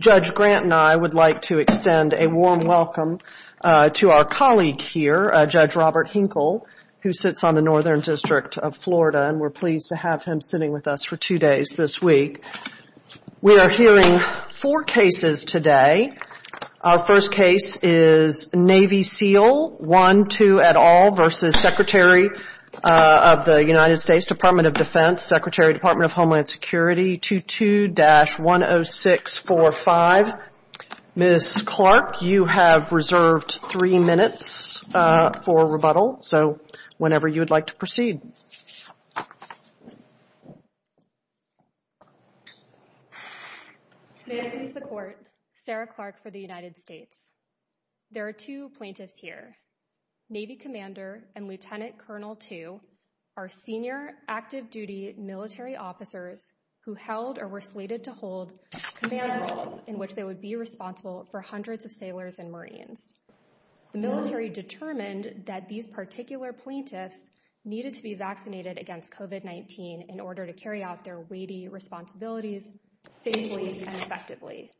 Judge Grant and I would like to extend a warm welcome to our colleague here, Judge Robert Hinkle, who sits on the Northern District of Florida, and we're pleased to have him sitting with us for two days this week. We are hearing four cases today. Our first case is Navy Seal 1-2 et al. v. Secretary of the United States Department of Defense, Secretary of the Department of Homeland Security, 22-10645. Ms. Clark, you have reserved three minutes for rebuttal, so whenever you would like to proceed. May I introduce the Court, Sarah Clark for the United States. There are two plaintiffs here. Navy Commander and Lieutenant Colonel 2 are senior active-duty military officers who held or were slated to hold command roles in which they would be responsible for hundreds of sailors and Marines. The military determined that these particular plaintiffs needed to be vaccinated against COVID-19 in order to carry out their weighty responsibilities safely and effectively.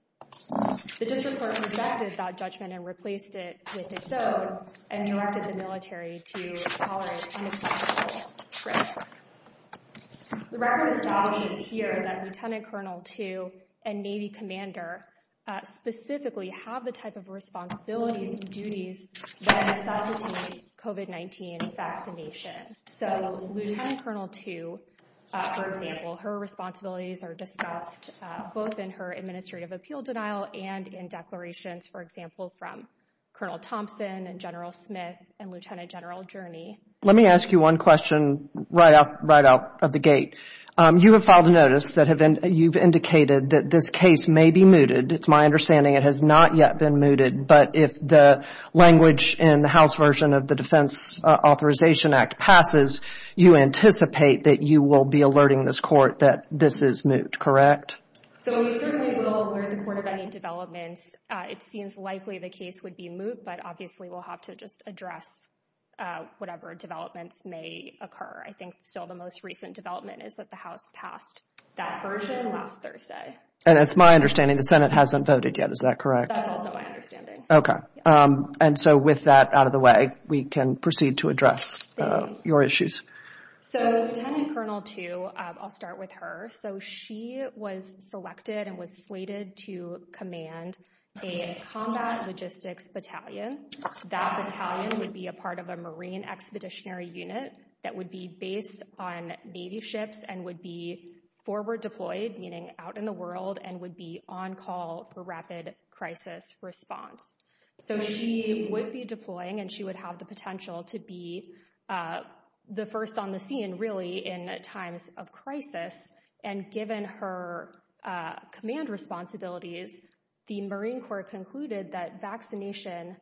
The District Court rejected that judgment and replaced it with its own and directed the military to tolerate unacceptable risks. The record establishes here that Lieutenant Colonel 2 and Navy Commander specifically have the type of responsibilities and duties that necessitate COVID-19 vaccination. So Lieutenant Colonel 2, for example, her responsibilities are discussed both in her administrative appeal denial and in declarations, for example, from Colonel Thompson and General Smith and Lieutenant General Journey. Let me ask you one question right out of the gate. You have filed a notice that you've indicated that this case may be mooted. It's my understanding it has not yet been mooted, but if the language in the House version of the Defense Authorization Act passes, you anticipate that you will be alerting this court that this is moot, correct? So we certainly will alert the court of any developments. It seems likely the case would be moot, but obviously we'll have to just address whatever developments may occur. I think still the most recent development is that the House passed that version last Thursday. And it's my understanding the Senate hasn't voted yet. Is that correct? That's also my understanding. Okay. And so with that out of the way, we can proceed to address your issues. So Lieutenant Colonel 2, I'll start with her. So she was selected and was slated to command a combat logistics battalion. That battalion would be a part of a Marine Expeditionary Unit that would be based on Navy ships and would be forward deployed, meaning out in the world, and would be on call for rapid crisis response. So she would be deploying and she would have the potential to be the first on the scene really in times of crisis. And given her command responsibilities, the Marine Corps concluded that vaccination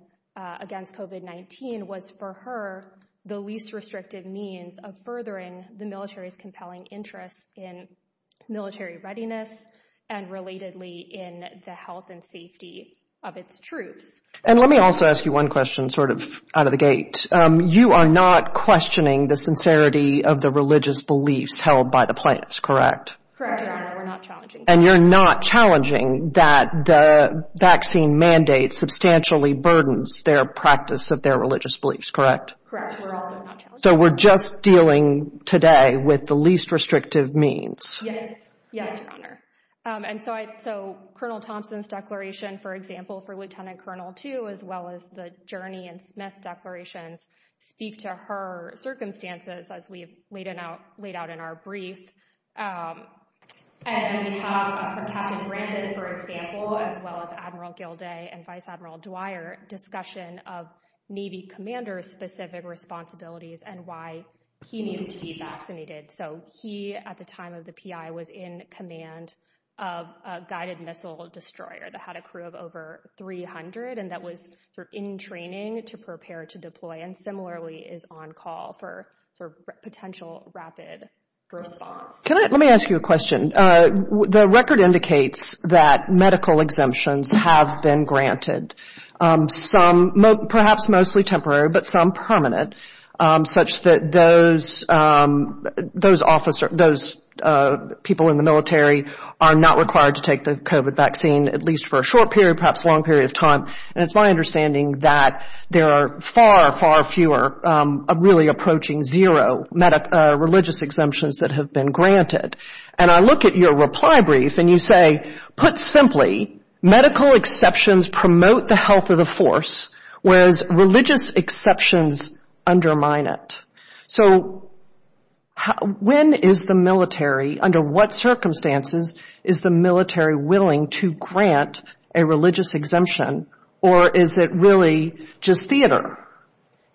against COVID-19 was for her the least restrictive means of furthering the military's compelling interest in military readiness and relatedly in the health and safety of its troops. And let me also ask you one question sort of out of the gate. You are not questioning the sincerity of the religious beliefs held by the plaintiffs, correct? Correct, Your Honor. We're not challenging that. And you're not challenging that the vaccine mandate substantially burdens their practice of their religious beliefs, correct? Correct. We're also not challenging that. So we're just dealing today with the least restrictive means? Yes. Yes, Your Honor. And so Colonel Thompson's declaration, for example, for Lieutenant Colonel 2, as well as the Journey and Smith declarations, speak to her circumstances as we've laid out in our brief. And we have for Captain Brandon, for example, as well as Admiral Gilday and Vice Admiral Dwyer discussion of Navy commander specific responsibilities and why he needs to be vaccinated. So he, at the time of the P.I., was in command of a guided missile destroyer that had a crew of over 300 and that was in training to prepare to deploy and similarly is on call for potential rapid response. Let me ask you a question. The record indicates that medical exemptions have been granted, some perhaps mostly temporary, but some prominent, such that those people in the military are not required to take the COVID vaccine, at least for a short period, perhaps a long period of time. And it's my understanding that there are far, far fewer, really approaching zero religious exemptions that have been granted. And I look at your reply brief and you say, put simply, medical exceptions promote the health of the force, whereas religious exceptions undermine it. So when is the military, under what circumstances is the military willing to grant a religious exemption or is it really just theater?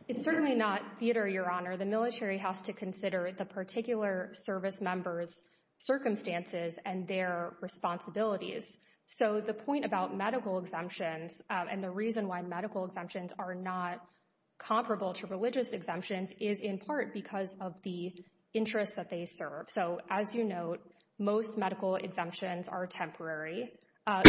It's certainly not theater, Your Honor. The military has to consider the particular service members' circumstances and their responsibilities. So the point about medical exemptions and the reason why medical exemptions are not comparable to religious exemptions is in part because of the interest that they serve. So as you note, most medical exemptions are temporary. A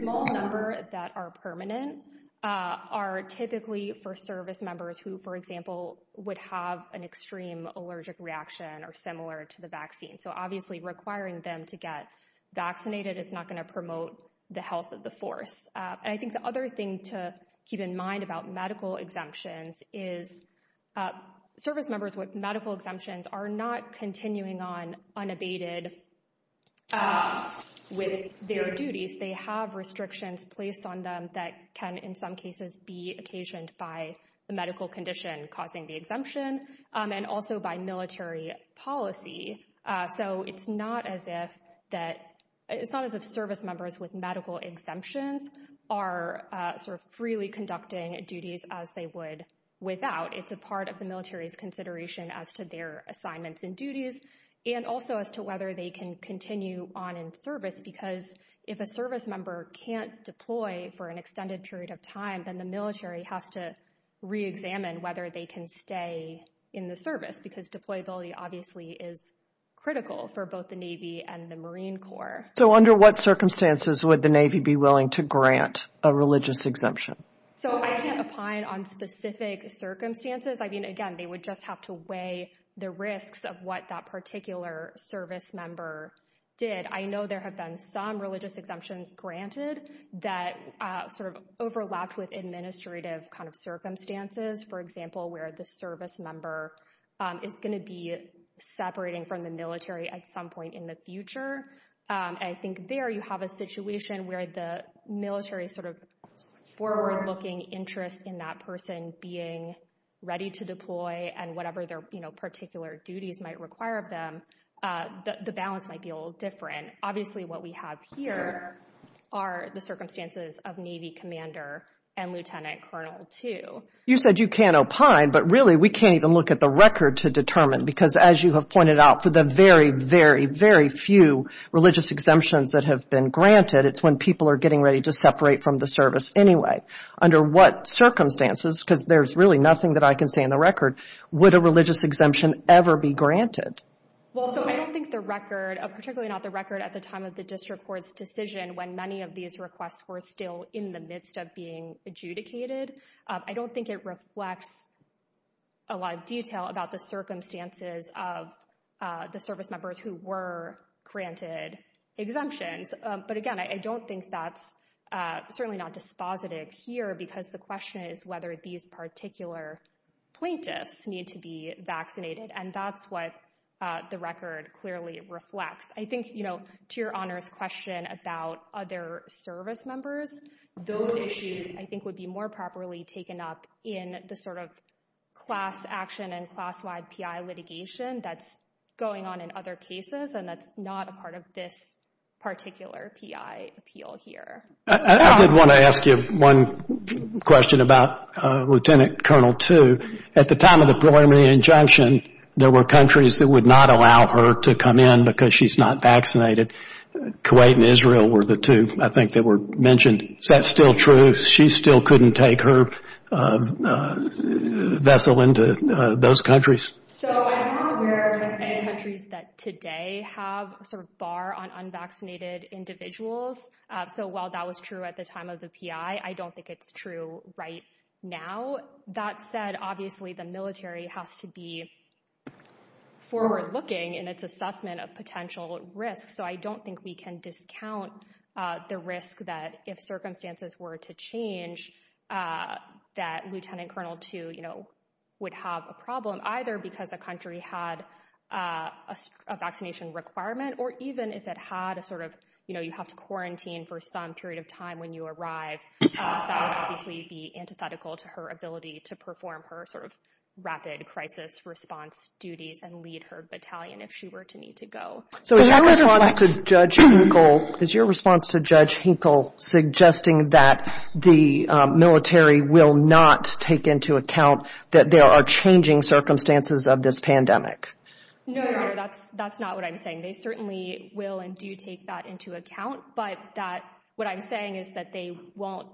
small number that are permanent are typically for service members who, for example, would have an extreme allergic reaction or similar to the vaccine. So obviously requiring them to get vaccinated is not going to promote the health of the force. And I think the other thing to keep in mind about medical exemptions is service members with medical exemptions are not continuing on unabated with their duties. They have restrictions placed on them that can, in some cases, be occasioned by the medical condition causing the exemption and also by military policy. So it's not as if service members with medical exemptions are sort of freely conducting duties as they would without. It's a part of the military's consideration as to their assignments and duties and also as to whether they can continue on in service because if a service member can't deploy for an extended period of time, then the military has to reexamine whether they can stay in the service because deployability obviously is critical for both the Navy and the Marine Corps. So under what circumstances would the Navy be willing to grant a religious exemption? So I can't opine on specific circumstances. I mean, again, they would just have to weigh the risks of what that particular service member did. I know there have been some religious exemptions granted that sort of overlapped with administrative kind of circumstances. For example, where the service member is going to be separating from the military at some point in the future, I think there you have a situation where the military's sort of forward-looking interest in that person being ready to deploy and whatever their particular duties might require of them, the balance might be a little different. Obviously, what we have here are the circumstances of Navy Commander and Lieutenant Colonel too. You said you can't opine, but really we can't even look at the record to determine because as you have pointed out, for the very, very, very few religious exemptions that have been granted, it's when people are getting ready to separate from the service anyway. Under what circumstances, because there's really nothing that I can say in the record, would a religious exemption ever be granted? Well, so I don't think the record, particularly not the record at the time of the district court's decision when many of these requests were still in the midst of being adjudicated, I don't think it reflects a lot of detail about the circumstances of the service members who were granted exemptions. But again, I don't think that's certainly not dispositive here because the question is whether these particular plaintiffs need to be vaccinated. And that's what the record clearly reflects. I think, to your Honor's question about other service members, those issues I think would be more properly taken up in the sort of class action and class-wide PI litigation that's going on in other cases and that's not a part of this particular PI appeal here. I did want to ask you one question about Lieutenant Colonel too. At the time of the preliminary injunction, there were countries that would not allow her to come in because she's not vaccinated. Kuwait and Israel were the two, I think, that were mentioned. Is that still true? She still couldn't take her vessel into those countries? So I'm not aware of any countries that today have a sort of bar on unvaccinated individuals. So while that was true at the time of the PI, I don't think it's true right now. That said, obviously the military has to be forward-looking in its assessment of potential risks, so I don't think we can discount the risk that if circumstances were to change that Lieutenant Colonel too would have a problem either because a country had a vaccination requirement or even if it had a sort of, you know, you have to quarantine for some period of time when you arrive, that would obviously be antithetical to her ability to perform her sort of rapid crisis response duties and lead her battalion if she were to need to go. So is your response to Judge Hinkle suggesting that the military will not take into account that there are changing circumstances of this pandemic? Again, they certainly will and do take that into account, but that what I'm saying is that they won't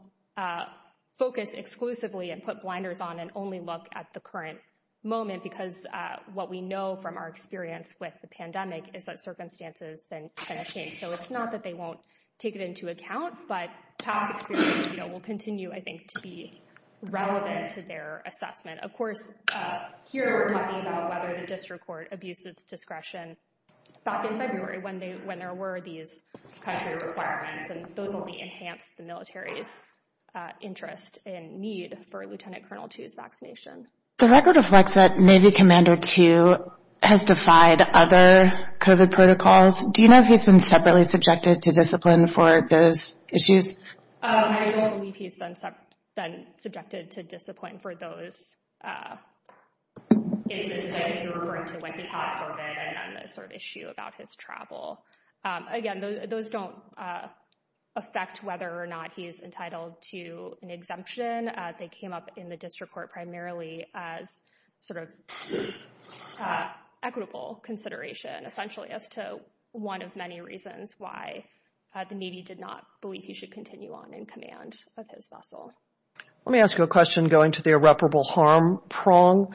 focus exclusively and put blinders on and only look at the current moment because what we know from our experience with the pandemic is that circumstances can change. So it's not that they won't take it into account, but past experience will continue, I think, to be relevant to their assessment. Of course, here we're talking about whether the district court abused its discretion back in February when there were these country requirements, and those will enhance the military's interest and need for Lieutenant Colonel Too's vaccination. The record reflects that Navy Commander Too has defied other COVID protocols. Do you know if he's been separately subjected to discipline for those issues? I don't believe he's been subjected to discipline for those instances. You're referring to when he caught COVID and then the sort of issue about his travel. Again, those don't affect whether or not he is entitled to an exemption. They came up in the district court primarily as sort of equitable consideration, essentially as to one of many reasons why the Navy did not believe he should continue on in command of his vessel. Let me ask you a question going to the irreparable harm prong.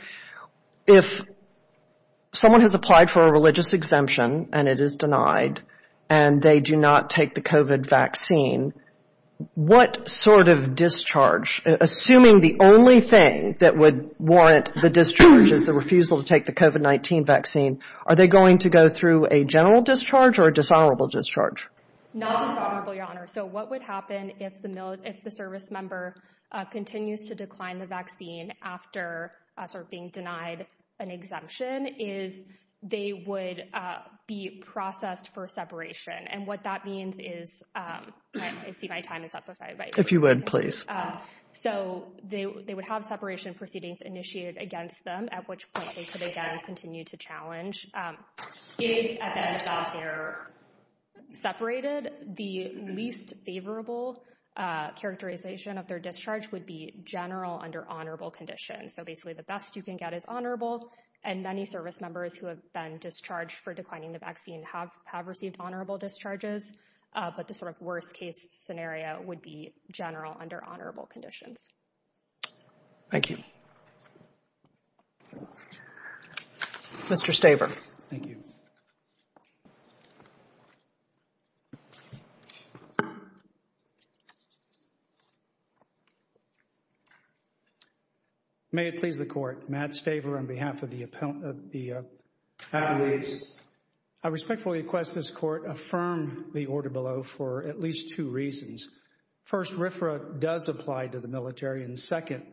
If someone has applied for a religious exemption and it is denied and they do not take the COVID vaccine, what sort of discharge, assuming the only thing that would warrant the discharge is the refusal to take the COVID-19 vaccine, are they going to go through a general discharge or a dishonorable discharge? Not dishonorable, Your Honor. So what would happen if the service member continues to decline the vaccine after sort of being denied an exemption is they would be processed for separation. And what that means is, I see my time is up. If you would, please. So they would have separation proceedings initiated against them, at which point they could again continue to challenge. If at the end of their separation, the least favorable characterization of their discharge would be general under honorable conditions. So basically, the best you can get is honorable. And many service members who have been discharged for declining the vaccine have have received honorable discharges. But the sort of worst case scenario would be general under honorable conditions. Thank you. Mr. Staver. Thank you. May it please the court. Matt Staver on behalf of the appellant of the. At least I respectfully request this court affirm the order below for at least two reasons. First, RFRA does apply to the military and second,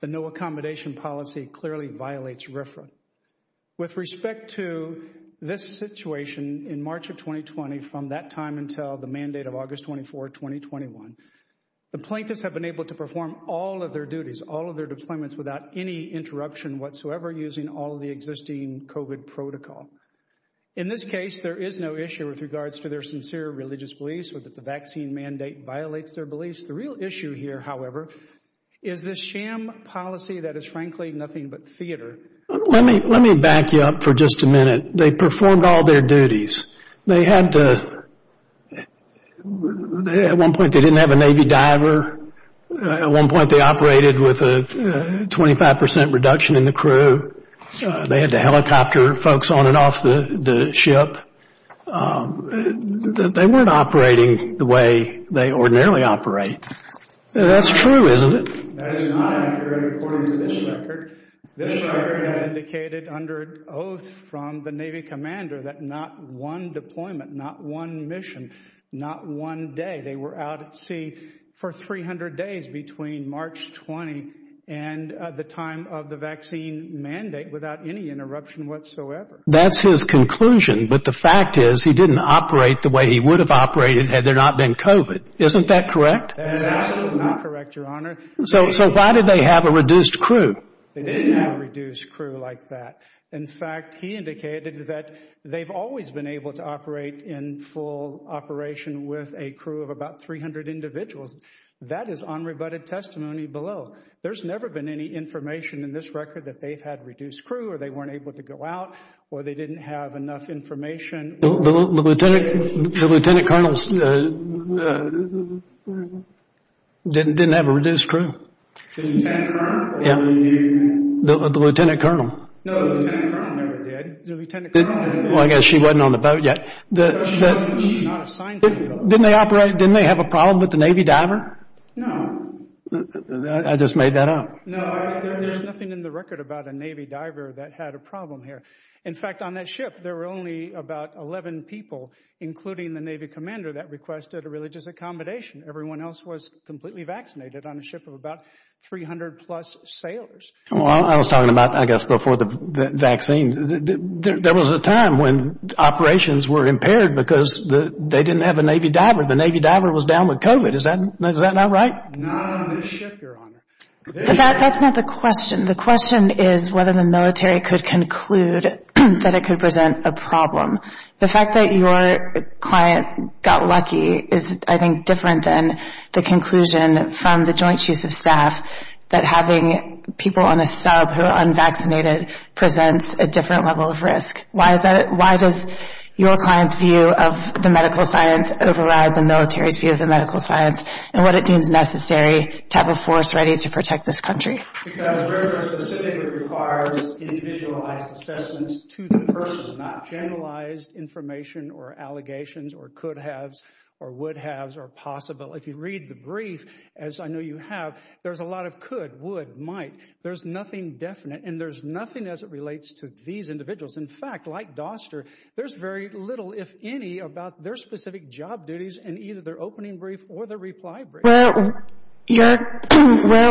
the no accommodation policy clearly violates RFRA. With respect to this situation in March of 2020, from that time until the mandate of August 24, 2021, the plaintiffs have been able to perform all of their duties, all of their deployments without any interruption whatsoever using all of the existing COVID protocol. In this case, there is no issue with regards to their sincere religious beliefs or that the vaccine mandate violates their beliefs. The real issue here, however, is this sham policy that is frankly nothing but theater. Let me let me back you up for just a minute. They performed all their duties. They had to. At one point, they didn't have a Navy diver. At one point, they operated with a 25 percent reduction in the crew. They had to helicopter folks on and off the ship. They weren't operating the way they ordinarily operate. That's true, isn't it? That is not accurate according to this record. This record has indicated under oath from the Navy commander that not one deployment, not one mission, not one day. They were out at sea for 300 days between March 20 and the time of the vaccine mandate without any interruption whatsoever. That's his conclusion. But the fact is he didn't operate the way he would have operated had there not been COVID. Isn't that correct? That is absolutely not correct, Your Honor. So so why did they have a reduced crew? They didn't have a reduced crew like that. In fact, he indicated that they've always been able to operate in full operation with a crew of about 300 individuals. That is unrebutted testimony below. There's never been any information in this record that they've had reduced crew or they weren't able to go out or they didn't have enough information. The lieutenant colonel didn't have a reduced crew. The lieutenant colonel. No, the lieutenant colonel never did. The lieutenant colonel. Well, I guess she wasn't on the boat yet. She's not assigned to the boat. Didn't they operate, didn't they have a problem with the Navy diver? No. I just made that up. No, there's nothing in the record about a Navy diver that had a problem here. In fact, on that ship, there were only about 11 people, including the Navy commander, that requested a religious accommodation. Everyone else was completely vaccinated on a ship of about 300 plus sailors. Well, I was talking about, I guess, before the vaccine. There was a time when operations were impaired because they didn't have a Navy diver. The Navy diver was down with COVID. Is that not right? No, on this ship, Your Honor. That's not the question. The question is whether the military could conclude that it could present a problem. The fact that your client got lucky is, I think, different than the conclusion from the Joint Chiefs of Staff that having people on the sub who are unvaccinated presents a different level of risk. Why is that? Why does your client's view of the medical science override the military's view of the medical science and what it deems necessary to have a force ready to protect this country? Because the record specifically requires individualized assessments to the person, not generalized information or allegations or could-haves or would-haves or possible. If you read the brief, as I know you have, there's a lot of could, would, might. There's nothing definite and there's nothing as it relates to these individuals. In fact, like Doster, there's very little, if any, about their specific job duties in either their opening brief or their reply brief. Well, where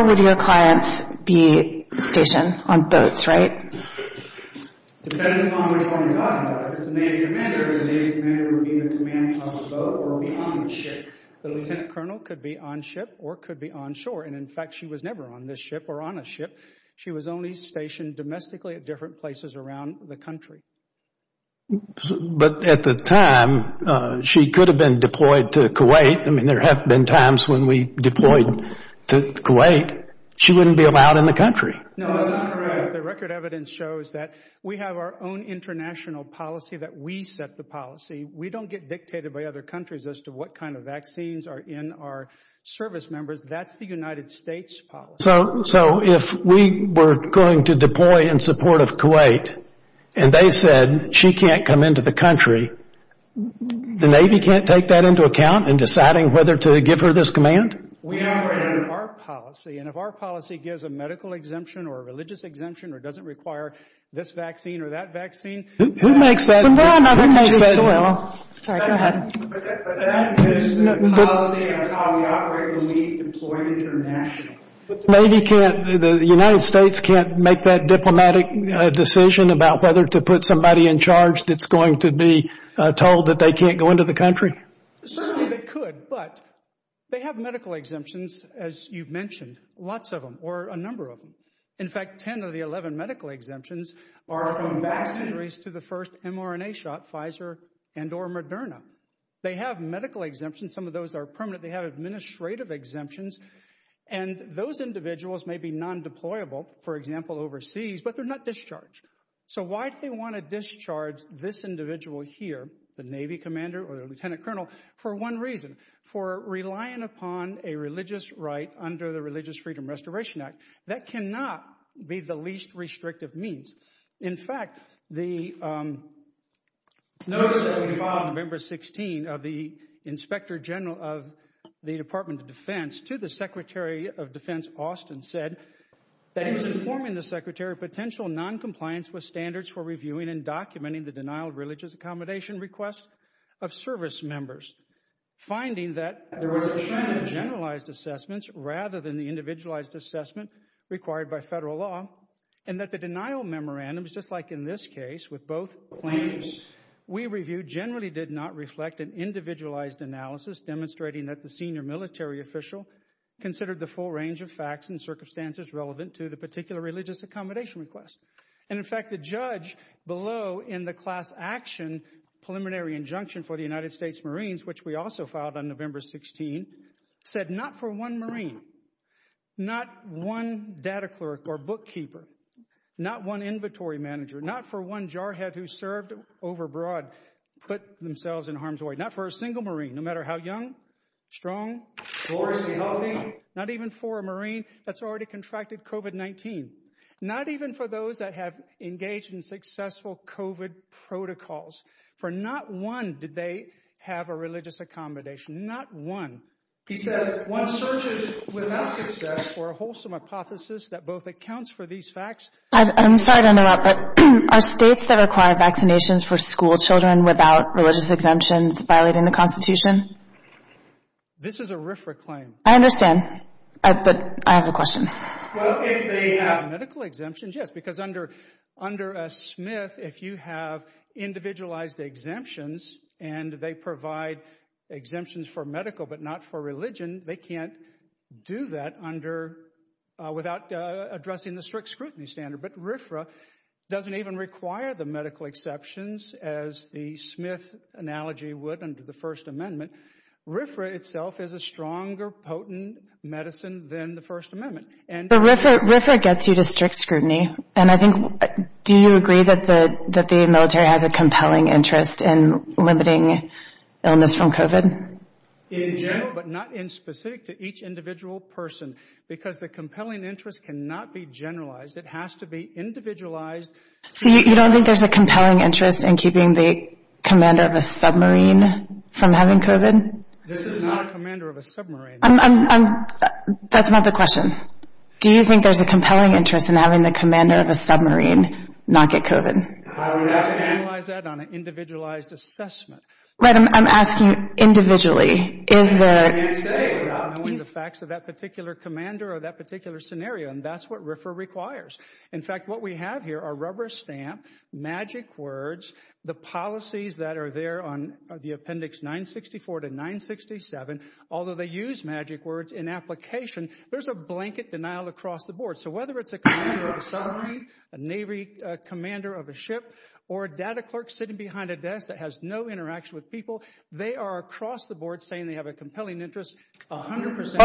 would your clients be stationed? On boats, right? Depending on which one you're talking about, if it's the Navy commander, the Navy commander would be in the command of the boat or be on the ship. The lieutenant colonel could be on ship or could be on shore, and in fact, she was never on this ship or on a ship. She was only stationed domestically at different places around the country. But at the time, she could have been deployed to Kuwait. I mean, there have been times when we deployed to Kuwait. She wouldn't be allowed in the country. No, that's not correct. The record evidence shows that we have our own international policy, that we set the policy. We don't get dictated by other countries as to what kind of vaccines are in our service members. That's the United States policy. So if we were going to deploy in support of Kuwait and they said she can't come into the country, the Navy can't take that into account in deciding whether to give her this command? We operate under our policy, and if our policy gives a medical exemption or a religious exemption or doesn't require this vaccine or that vaccine, who makes that decision? Sorry, go ahead. But that is the policy of how we operate when we deploy internationally. The United States can't make that diplomatic decision about whether to put somebody in charge that's going to be told that they can't go into the country? Certainly they could, but they have medical exemptions, as you've mentioned, lots of them, or a number of them. In fact, 10 of the 11 medical exemptions are from vaccinatories to the first mRNA shot, Pfizer and or Moderna. They have medical exemptions. Some of those are permanent. They have administrative exemptions, and those individuals may be non-deployable, for example, overseas, but they're not discharged. So why do they want to discharge this individual here, the Navy commander or the lieutenant colonel? For one reason, for relying upon a religious right under the Religious Freedom Restoration Act. That cannot be the least restrictive means. In fact, the notice that was filed November 16 of the inspector general of the Department of Defense to the Secretary of Defense Austin said that he was informing the Secretary of potential noncompliance with standards for reviewing and documenting the denial of religious accommodation requests of service members, finding that there was a trend in generalized assessments rather than the individualized assessment required by federal law, and that the denial memorandums, just like in this case with both claims we reviewed, generally did not reflect an individualized analysis demonstrating that the senior military official considered the full range of facts and circumstances relevant to the particular religious accommodation request. And in fact, the judge below in the class action preliminary injunction for the United States Marines, which we also filed on November 16, said not for one Marine, not one data clerk or bookkeeper, not one inventory manager, not for one jarhead who served overbroad, put themselves in harm's way, not for a single Marine, no matter how young, strong, gloriously healthy, not even for a Marine that's already contracted COVID-19, not even for those that have engaged in successful COVID protocols, for not one did they have a religious accommodation, not one. He said one searches without success for a wholesome hypothesis that both accounts for these facts. I'm sorry to interrupt, but are states that require vaccinations for school children without religious exemptions violating the Constitution? This is a RFRA claim. I understand, but I have a question. Well, if they have medical exemptions, yes, because under a Smith, if you have individualized exemptions and they provide exemptions for medical but not for religion, they can't do that without addressing the strict scrutiny standard. But RFRA doesn't even require the medical exceptions as the Smith analogy would under the First Amendment. RFRA itself is a stronger, potent medicine than the First Amendment. But RFRA gets you to strict scrutiny. And I think do you agree that the military has a compelling interest in limiting illness from COVID? In general, but not in specific to each individual person, because the compelling interest cannot be generalized. It has to be individualized. So you don't think there's a compelling interest in keeping the commander of a submarine from having COVID? This is not a commander of a submarine. That's not the question. Do you think there's a compelling interest in having the commander of a submarine not get COVID? I would have to analyze that on an individualized assessment. I'm asking individually. Isn't there anything you can say without knowing the facts of that particular commander or that particular scenario? And that's what RFRA requires. In fact, what we have here are rubber stamp, magic words, the policies that are there on the Appendix 964 to 967. Although they use magic words in application, there's a blanket denial across the board. So whether it's a commander of a submarine, a Navy commander of a ship, or a data clerk sitting behind a desk that has no interaction with people, they are across the board saying they have a compelling interest 100 percent.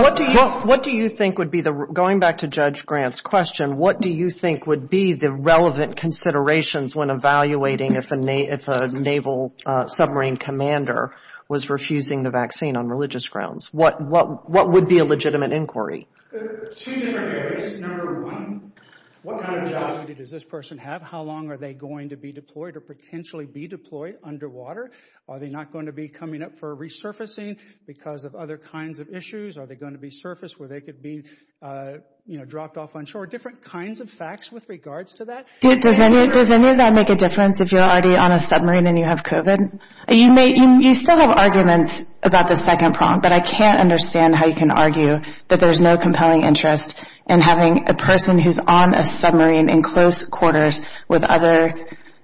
What do you think would be the – going back to Judge Grant's question, what do you think would be the relevant considerations when evaluating if a Naval submarine commander was refusing the vaccine on religious grounds? What would be a legitimate inquiry? Two different areas. Number one, what kind of job does this person have? How long are they going to be deployed or potentially be deployed underwater? Are they not going to be coming up for resurfacing because of other kinds of issues? Are they going to be surfaced where they could be dropped off on shore? Different kinds of facts with regards to that. Does any of that make a difference if you're already on a submarine and you have COVID? You still have arguments about the second prong, but I can't understand how you can argue that there's no compelling interest in having a person who's on a submarine in close quarters with other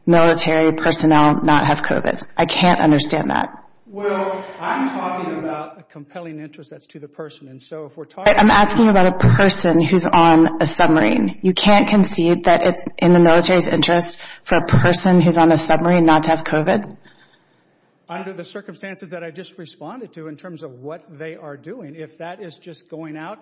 military personnel not have COVID. I can't understand that. Well, I'm talking about a compelling interest that's to the person. I'm asking about a person who's on a submarine. You can't concede that it's in the military's interest for a person who's on a submarine not to have COVID? Under the circumstances that I just responded to in terms of what they are doing, if that is just going out,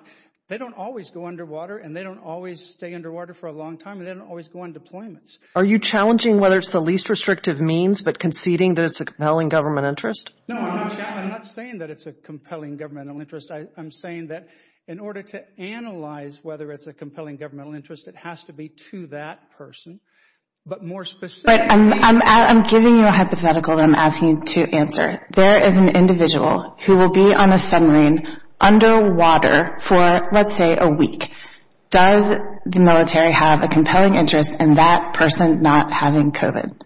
they don't always go underwater and they don't always stay underwater for a long time and they don't always go on deployments. Are you challenging whether it's the least restrictive means but conceding that it's a compelling government interest? No, I'm not saying that it's a compelling governmental interest. I'm saying that in order to analyze whether it's a compelling governmental interest, it has to be to that person. But more specifically— I'm giving you a hypothetical that I'm asking you to answer. There is an individual who will be on a submarine underwater for, let's say, a week. Does the military have a compelling interest in that person not having COVID?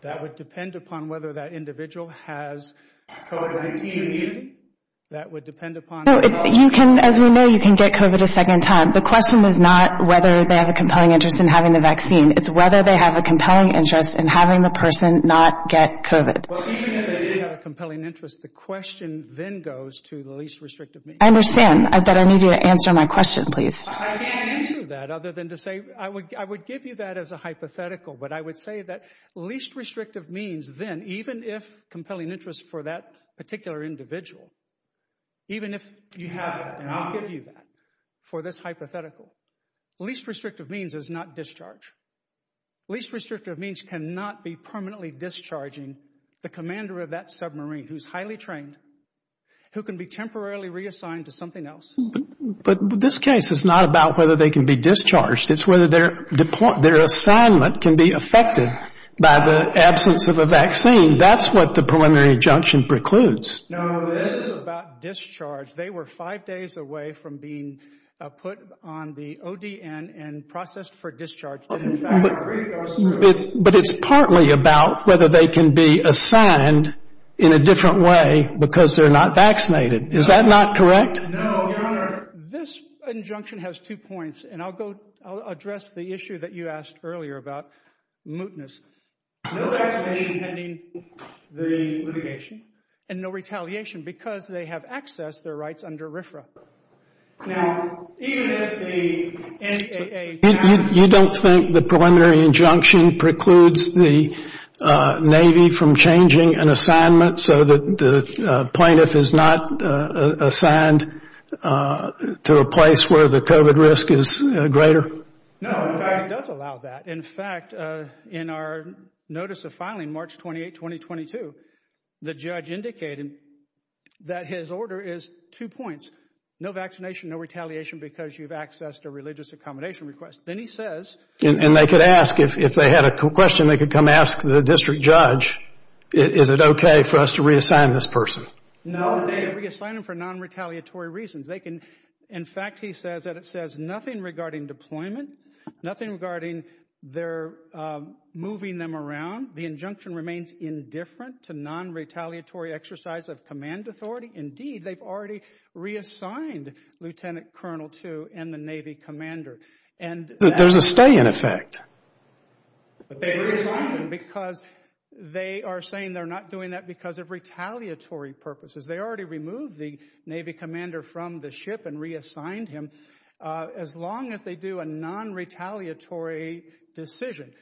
That would depend upon whether that individual has COVID-19 immunity. As we know, you can get COVID a second time. The question is not whether they have a compelling interest in having the vaccine. It's whether they have a compelling interest in having the person not get COVID. Well, even if they do have a compelling interest, the question then goes to the least restrictive means. I understand, but I need you to answer my question, please. I can't answer that other than to say—I would give you that as a hypothetical, but I would say that least restrictive means then, even if compelling interest for that particular individual, even if you have that, and I'll give you that for this hypothetical, least restrictive means is not discharge. Least restrictive means cannot be permanently discharging the commander of that submarine who's highly trained, who can be temporarily reassigned to something else. But this case is not about whether they can be discharged. It's whether their assignment can be affected by the absence of a vaccine. That's what the preliminary injunction precludes. No, this is about discharge. They were five days away from being put on the ODN and processed for discharge. But in fact— But it's partly about whether they can be assigned in a different way because they're not vaccinated. Is that not correct? No, Your Honor. Your Honor, this injunction has two points, and I'll address the issue that you asked earlier about, mootness. No vaccination pending the litigation and no retaliation because they have access to their rights under RFRA. Now, even if the NAA— You don't think the preliminary injunction precludes the Navy from changing an assignment so that the plaintiff is not assigned to a place where the COVID risk is greater? No, in fact, it does allow that. In fact, in our notice of filing March 28, 2022, the judge indicated that his order is two points, no vaccination, no retaliation because you've accessed a religious accommodation request. Then he says— And they could ask, if they had a question, they could come ask the district judge, is it okay for us to reassign this person? No, they reassign them for non-retaliatory reasons. They can—in fact, he says that it says nothing regarding deployment, nothing regarding their moving them around. The injunction remains indifferent to non-retaliatory exercise of command authority. Indeed, they've already reassigned Lieutenant Colonel Tu and the Navy commander. There's a stay in effect. But they reassigned him because they are saying they're not doing that because of retaliatory purposes. They already removed the Navy commander from the ship and reassigned him. As long as they do a non-retaliatory decision,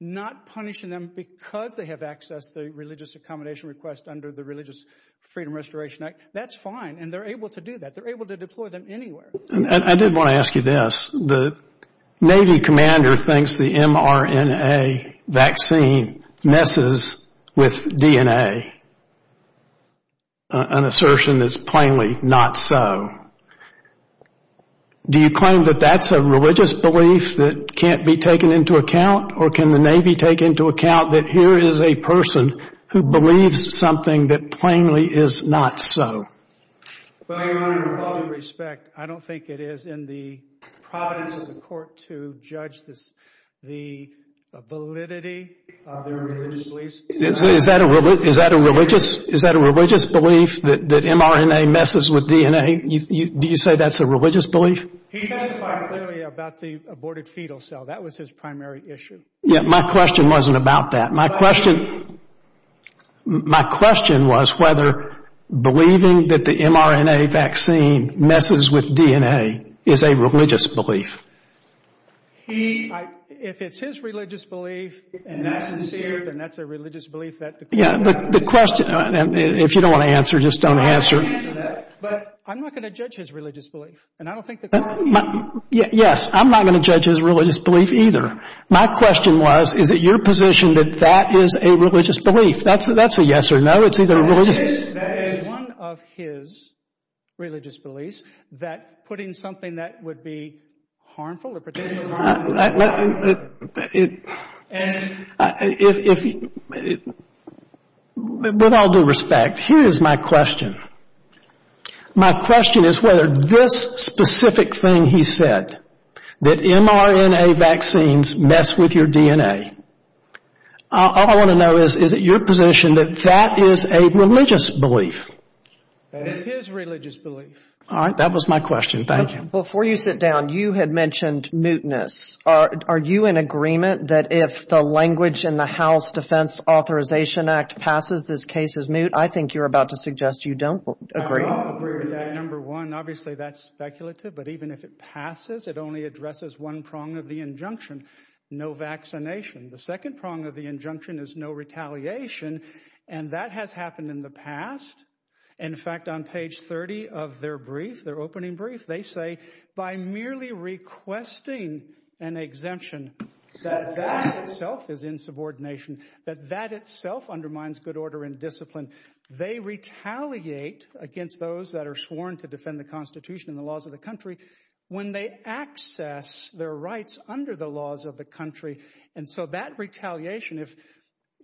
not punishing them because they have accessed the religious accommodation request under the Religious Freedom Restoration Act, that's fine, and they're able to do that. They're able to deploy them anywhere. I did want to ask you this. The Navy commander thinks the mRNA vaccine messes with DNA, an assertion that's plainly not so. Do you claim that that's a religious belief that can't be taken into account, or can the Navy take into account that here is a person who believes something that plainly is not so? Well, Your Honor, with all due respect, I don't think it is in the providence of the court to judge the validity of their religious beliefs. Is that a religious belief that mRNA messes with DNA? Do you say that's a religious belief? He testified clearly about the aborted fetal cell. That was his primary issue. Yeah, my question wasn't about that. My question was whether believing that the mRNA vaccine messes with DNA is a religious belief. If it's his religious belief and that's sincere, then that's a religious belief that the court has. Yeah, the question, if you don't want to answer, just don't answer. But I'm not going to judge his religious belief, and I don't think the court will either. Yes, I'm not going to judge his religious belief either. My question was, is it your position that that is a religious belief? That's a yes or no. It's either a religious belief. That is one of his religious beliefs, that putting something that would be harmful or potentially harmful. My question is whether this specific thing he said, that mRNA vaccines mess with your DNA, all I want to know is, is it your position that that is a religious belief? It is his religious belief. All right, that was my question. Thank you. Before you sit down, you had mentioned mootness. Are you in agreement that if the language in the House Defense Authorization Act passes, this case is moot? I think you're about to suggest you don't agree. I don't agree with that, number one. Obviously, that's speculative, but even if it passes, it only addresses one prong of the injunction, no vaccination. The second prong of the injunction is no retaliation, and that has happened in the past. In fact, on page 30 of their brief, their opening brief, they say, by merely requesting an exemption, that that itself is insubordination, that that itself undermines good order and discipline. They retaliate against those that are sworn to defend the Constitution and the laws of the country when they access their rights under the laws of the country. And so that retaliation,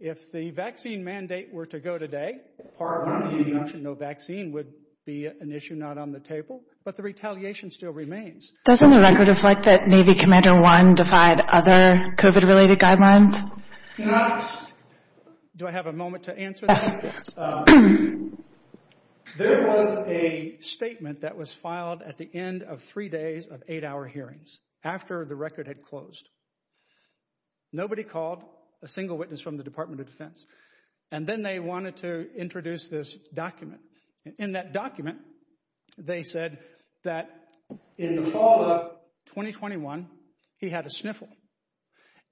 if the vaccine mandate were to go today, part of the injunction, no vaccine would be an issue not on the table, but the retaliation still remains. Doesn't the record reflect that Navy Commander One defied other COVID-related guidelines? Do I have a moment to answer that? Yes. There was a statement that was filed at the end of three days of eight-hour hearings after the record had closed. And then they wanted to introduce this document. In that document, they said that in the fall of 2021, he had a sniffle.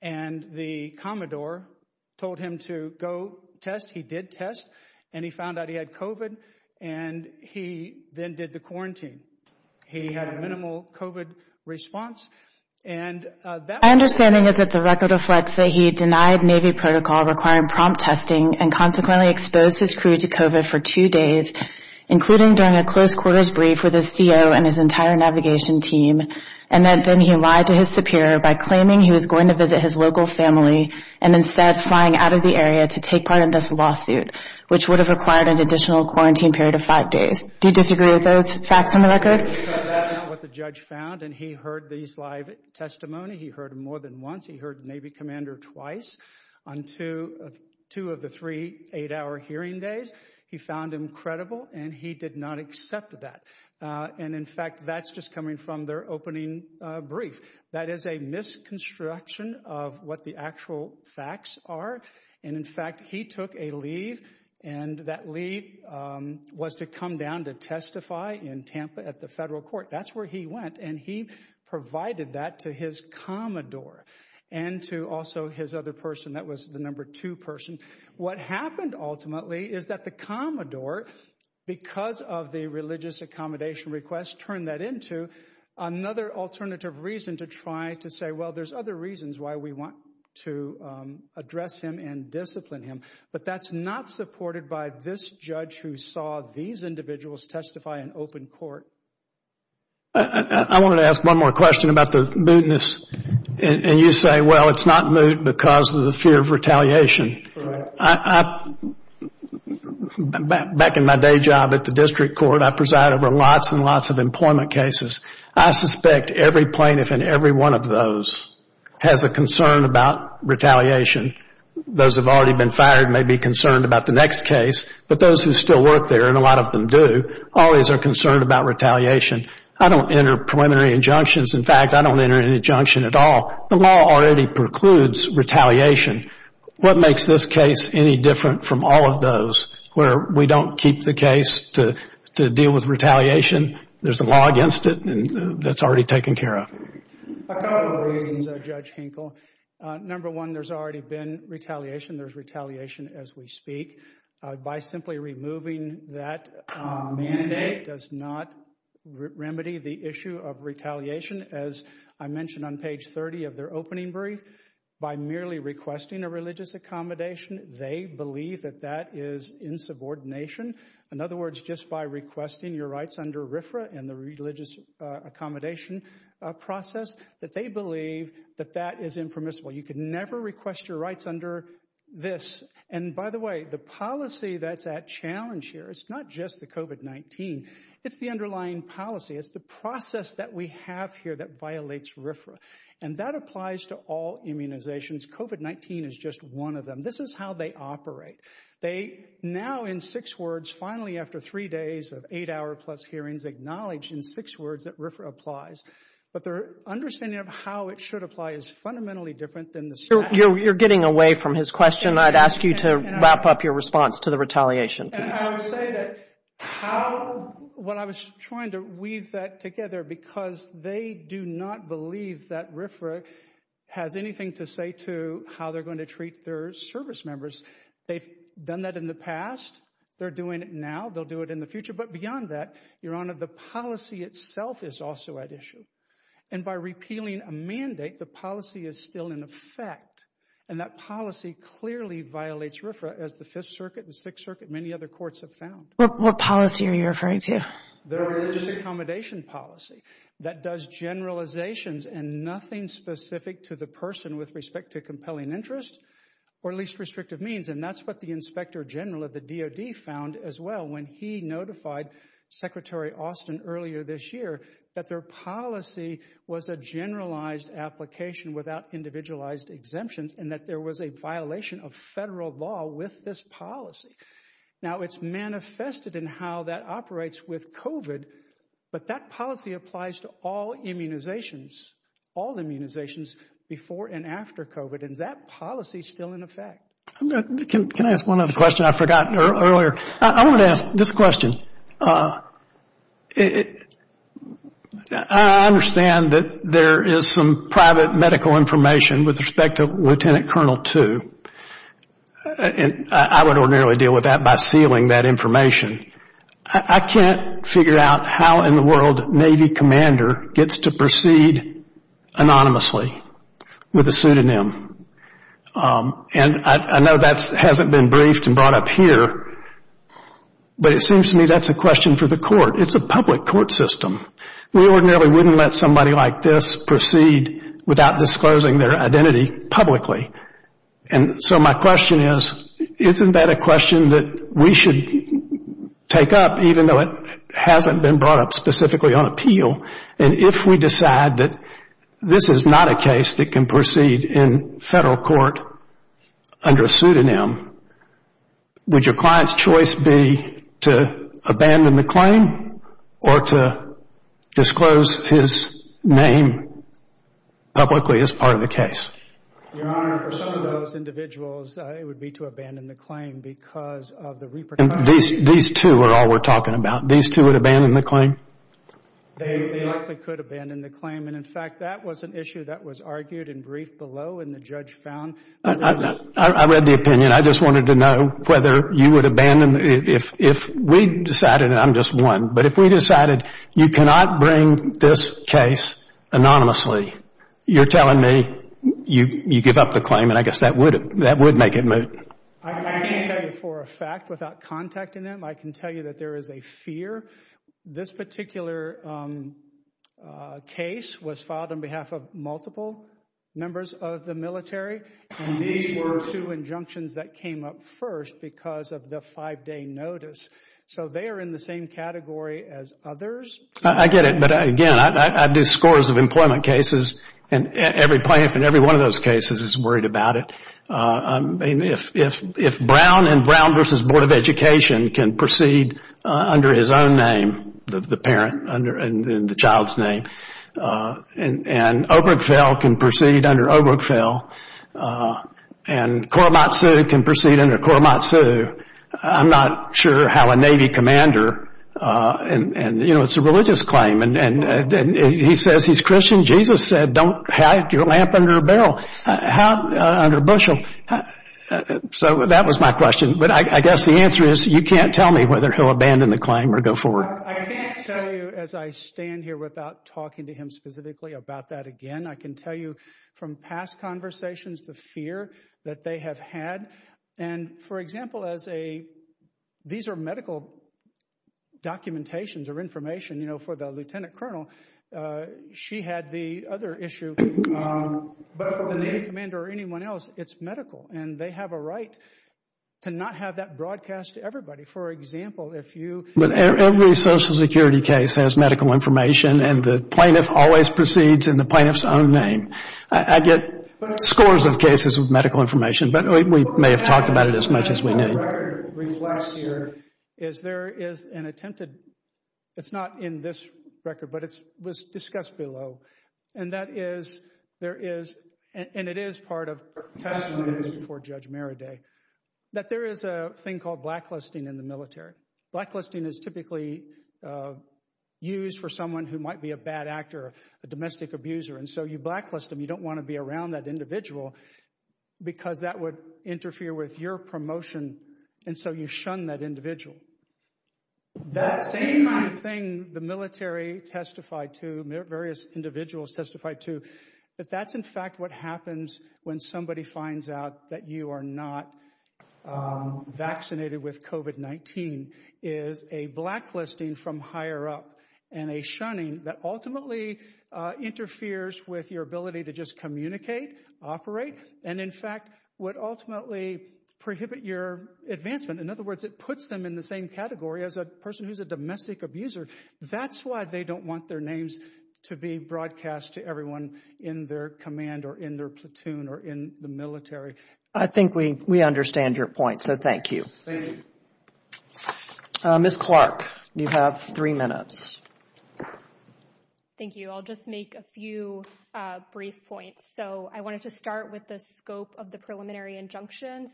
And the Commodore told him to go test. He did test, and he found out he had COVID, and he then did the quarantine. He had a minimal COVID response. My understanding is that the record reflects that he denied Navy protocol requiring prompt testing and consequently exposed his crew to COVID for two days, including during a close-quarters brief with his CO and his entire navigation team, and that then he lied to his superior by claiming he was going to visit his local family and instead flying out of the area to take part in this lawsuit, which would have required an additional quarantine period of five days. Do you disagree with those facts on the record? No, because that's not what the judge found. And he heard these live testimony. He heard them more than once. He heard the Navy commander twice on two of the three eight-hour hearing days. He found them credible, and he did not accept that. And, in fact, that's just coming from their opening brief. That is a misconstruction of what the actual facts are. And, in fact, he took a leave, and that leave was to come down to testify in Tampa at the federal court. That's where he went, and he provided that to his commodore and to also his other person. That was the number two person. What happened ultimately is that the commodore, because of the religious accommodation request, turned that into another alternative reason to try to say, well, there's other reasons why we want to address him and discipline him. But that's not supported by this judge who saw these individuals testify in open court. I wanted to ask one more question about the mootness. And you say, well, it's not moot because of the fear of retaliation. Back in my day job at the district court, I presided over lots and lots of employment cases. I suspect every plaintiff in every one of those has a concern about retaliation. Those who have already been fired may be concerned about the next case, but those who still work there, and a lot of them do, always are concerned about retaliation. I don't enter preliminary injunctions. In fact, I don't enter an injunction at all. The law already precludes retaliation. What makes this case any different from all of those where we don't keep the case to deal with retaliation? There's a law against it that's already taken care of. A couple of reasons, Judge Hinkle. Number one, there's already been retaliation. There's retaliation as we speak. By simply removing that mandate does not remedy the issue of retaliation. As I mentioned on page 30 of their opening brief, by merely requesting a religious accommodation, they believe that that is insubordination. In other words, just by requesting your rights under RFRA and the religious accommodation process, that they believe that that is impermissible. You can never request your rights under this. And by the way, the policy that's at challenge here is not just the COVID-19. It's the underlying policy. It's the process that we have here that violates RFRA. And that applies to all immunizations. COVID-19 is just one of them. This is how they operate. They now, in six words, finally after three days of eight-hour plus hearings, acknowledge in six words that RFRA applies. But their understanding of how it should apply is fundamentally different than the statute. You're getting away from his question. I'd ask you to wrap up your response to the retaliation, please. And I would say that how—well, I was trying to weave that together because they do not believe that RFRA has anything to say to how they're going to treat their service members. They've done that in the past. They're doing it now. They'll do it in the future. But beyond that, Your Honor, the policy itself is also at issue. And by repealing a mandate, the policy is still in effect. And that policy clearly violates RFRA, as the Fifth Circuit and Sixth Circuit and many other courts have found. What policy are you referring to? The religious accommodation policy that does generalizations and nothing specific to the person with respect to compelling interest or least restrictive means. And that's what the inspector general of the DOD found as well when he notified Secretary Austin earlier this year that their policy was a generalized application without individualized exemptions and that there was a violation of federal law with this policy. Now, it's manifested in how that operates with COVID, but that policy applies to all immunizations, all immunizations before and after COVID, and that policy is still in effect. Can I ask one other question? I forgot earlier. I want to ask this question. I understand that there is some private medical information with respect to Lieutenant Colonel Two. I can't figure out how in the world Navy commander gets to proceed anonymously with a pseudonym. And I know that hasn't been briefed and brought up here, but it seems to me that's a question for the court. It's a public court system. We ordinarily wouldn't let somebody like this proceed without disclosing their identity publicly. And so my question is, isn't that a question that we should take up even though it hasn't been brought up specifically on appeal? And if we decide that this is not a case that can proceed in federal court under a pseudonym, would your client's choice be to abandon the claim or to disclose his name publicly as part of the case? Your Honor, for some of those individuals, it would be to abandon the claim because of the repercussions. These two are all we're talking about. These two would abandon the claim? They likely could abandon the claim. And, in fact, that was an issue that was argued and briefed below and the judge found. I read the opinion. I just wanted to know whether you would abandon if we decided, and I'm just one, but if we decided you cannot bring this case anonymously, you're telling me you give up the claim, and I guess that would make it moot. I can tell you for a fact without contacting them, I can tell you that there is a fear. This particular case was filed on behalf of multiple members of the military, and these were two injunctions that came up first because of the five-day notice. So they are in the same category as others. I get it, but, again, I do scores of employment cases, and every plaintiff in every one of those cases is worried about it. If Brown and Brown v. Board of Education can proceed under his own name, the parent and the child's name, and Obergefell can proceed under Obergefell, and Korematsu can proceed under Korematsu, I'm not sure how a Navy commander, and, you know, it's a religious claim, and he says he's Christian. Jesus said don't hide your lamp under a barrel, under a bushel. So that was my question, but I guess the answer is you can't tell me whether he'll abandon the claim or go forward. I can't tell you as I stand here without talking to him specifically about that again. I can tell you from past conversations the fear that they have had, and, for example, these are medical documentations or information. You know, for the lieutenant colonel, she had the other issue, but for the Navy commander or anyone else, it's medical, and they have a right to not have that broadcast to everybody. For example, if you— But every Social Security case has medical information, and the plaintiff always proceeds in the plaintiff's own name. I get scores of cases with medical information, but we may have talked about it as much as we need. What I read last year is there is an attempted— it's not in this record, but it was discussed below, and that is there is, and it is part of testimony before Judge Merriday, that there is a thing called blacklisting in the military. Blacklisting is typically used for someone who might be a bad actor, a domestic abuser, and so you blacklist them. You don't want to be around that individual because that would interfere with your promotion, and so you shun that individual. That same kind of thing the military testified to, various individuals testified to, that that's, in fact, what happens when somebody finds out that you are not vaccinated with COVID-19 is a blacklisting from higher up and a shunning that ultimately interferes with your ability to just communicate, operate, and in fact would ultimately prohibit your advancement. In other words, it puts them in the same category as a person who is a domestic abuser. That's why they don't want their names to be broadcast to everyone in their command or in their platoon or in the military. I think we understand your point, so thank you. Thank you. Ms. Clark, you have three minutes. Thank you. I'll just make a few brief points. I wanted to start with the scope of the preliminary injunction.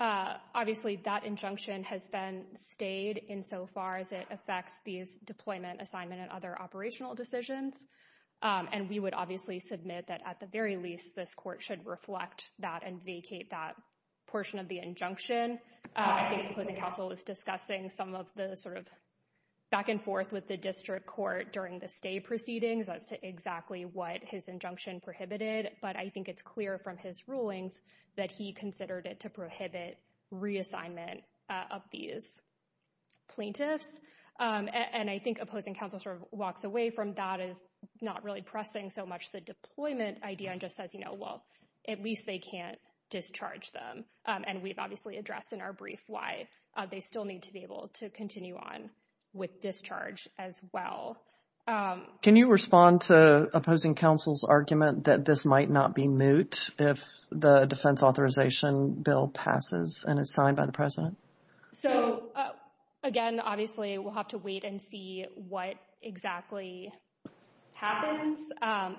Obviously, that injunction has been stayed insofar as it affects these deployment, assignment, and other operational decisions, and we would obviously submit that at the very least this court should reflect that and vacate that portion of the injunction. I think the opposing counsel was discussing some of the back and forth with the district court during the stay proceedings as to exactly what his injunction prohibited, but I think it's clear from his rulings that he considered it to prohibit reassignment of these plaintiffs. I think opposing counsel walks away from that as not really pressing so much the deployment idea and just says, well, at least they can't discharge them. And we've obviously addressed in our brief why they still need to be able to continue on with discharge as well. Can you respond to opposing counsel's argument that this might not be moot if the defense authorization bill passes and is signed by the president? So, again, obviously we'll have to wait and see what exactly happens.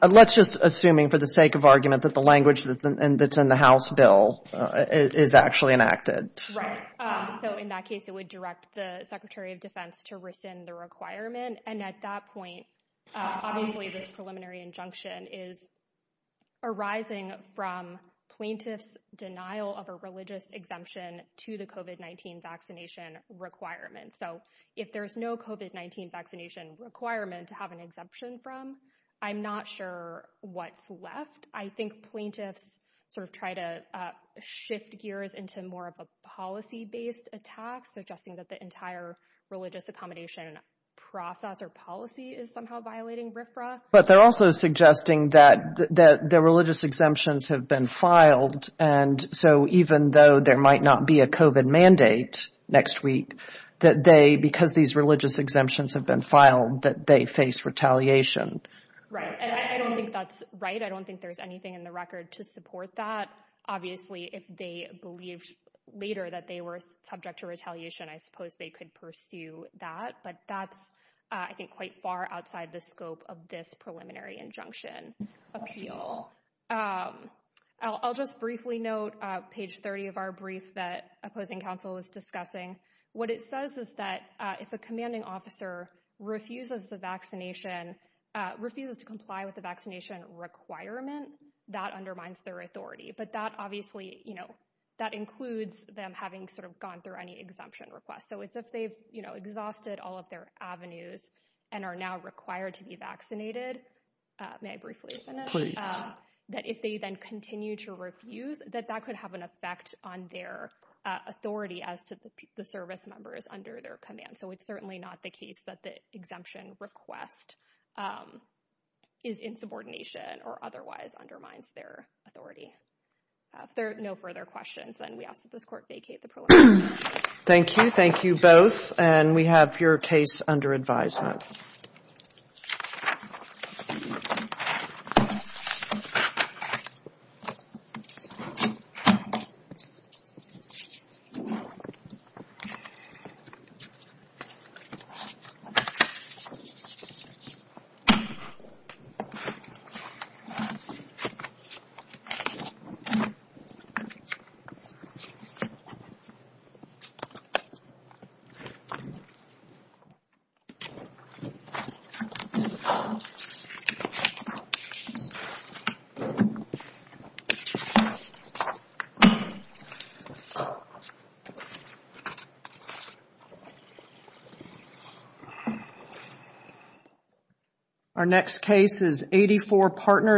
Let's just assuming for the sake of argument that the language that's in the House bill is actually enacted. Right. So in that case, it would direct the secretary of defense to rescind the requirement. And at that point, obviously this preliminary injunction is arising from plaintiffs' denial of a religious exemption to the COVID-19 vaccination requirement. So if there's no COVID-19 vaccination requirement to have an exemption from, I'm not sure what's left. I think plaintiffs sort of try to shift gears into more of a policy-based attack, suggesting that the entire religious accommodation process or policy is somehow violating RFRA. But they're also suggesting that the religious exemptions have been filed. And so even though there might not be a COVID mandate next week, that they, because these religious exemptions have been filed, that they face retaliation. Right. And I don't think that's right. I don't think there's anything in the record to support that. Obviously, if they believed later that they were subject to retaliation, I suppose they could pursue that. But that's, I think, quite far outside the scope of this preliminary injunction appeal. I'll just briefly note page 30 of our brief that opposing counsel is discussing. What it says is that if a commanding officer refuses the vaccination, refuses to comply with the vaccination requirement, that undermines their authority. But that obviously, you know, that includes them having sort of gone through any exemption request. So it's if they've exhausted all of their avenues and are now required to be vaccinated. May I briefly finish? Please. That if they then continue to refuse, that that could have an effect on their authority as to the service members under their command. So it's certainly not the case that the exemption request is in subordination or otherwise undermines their authority. If there are no further questions, then we ask that this court vacate the preliminary. Thank you. Thank you both. And we have your case under advisement. Our next case is 84 Partners.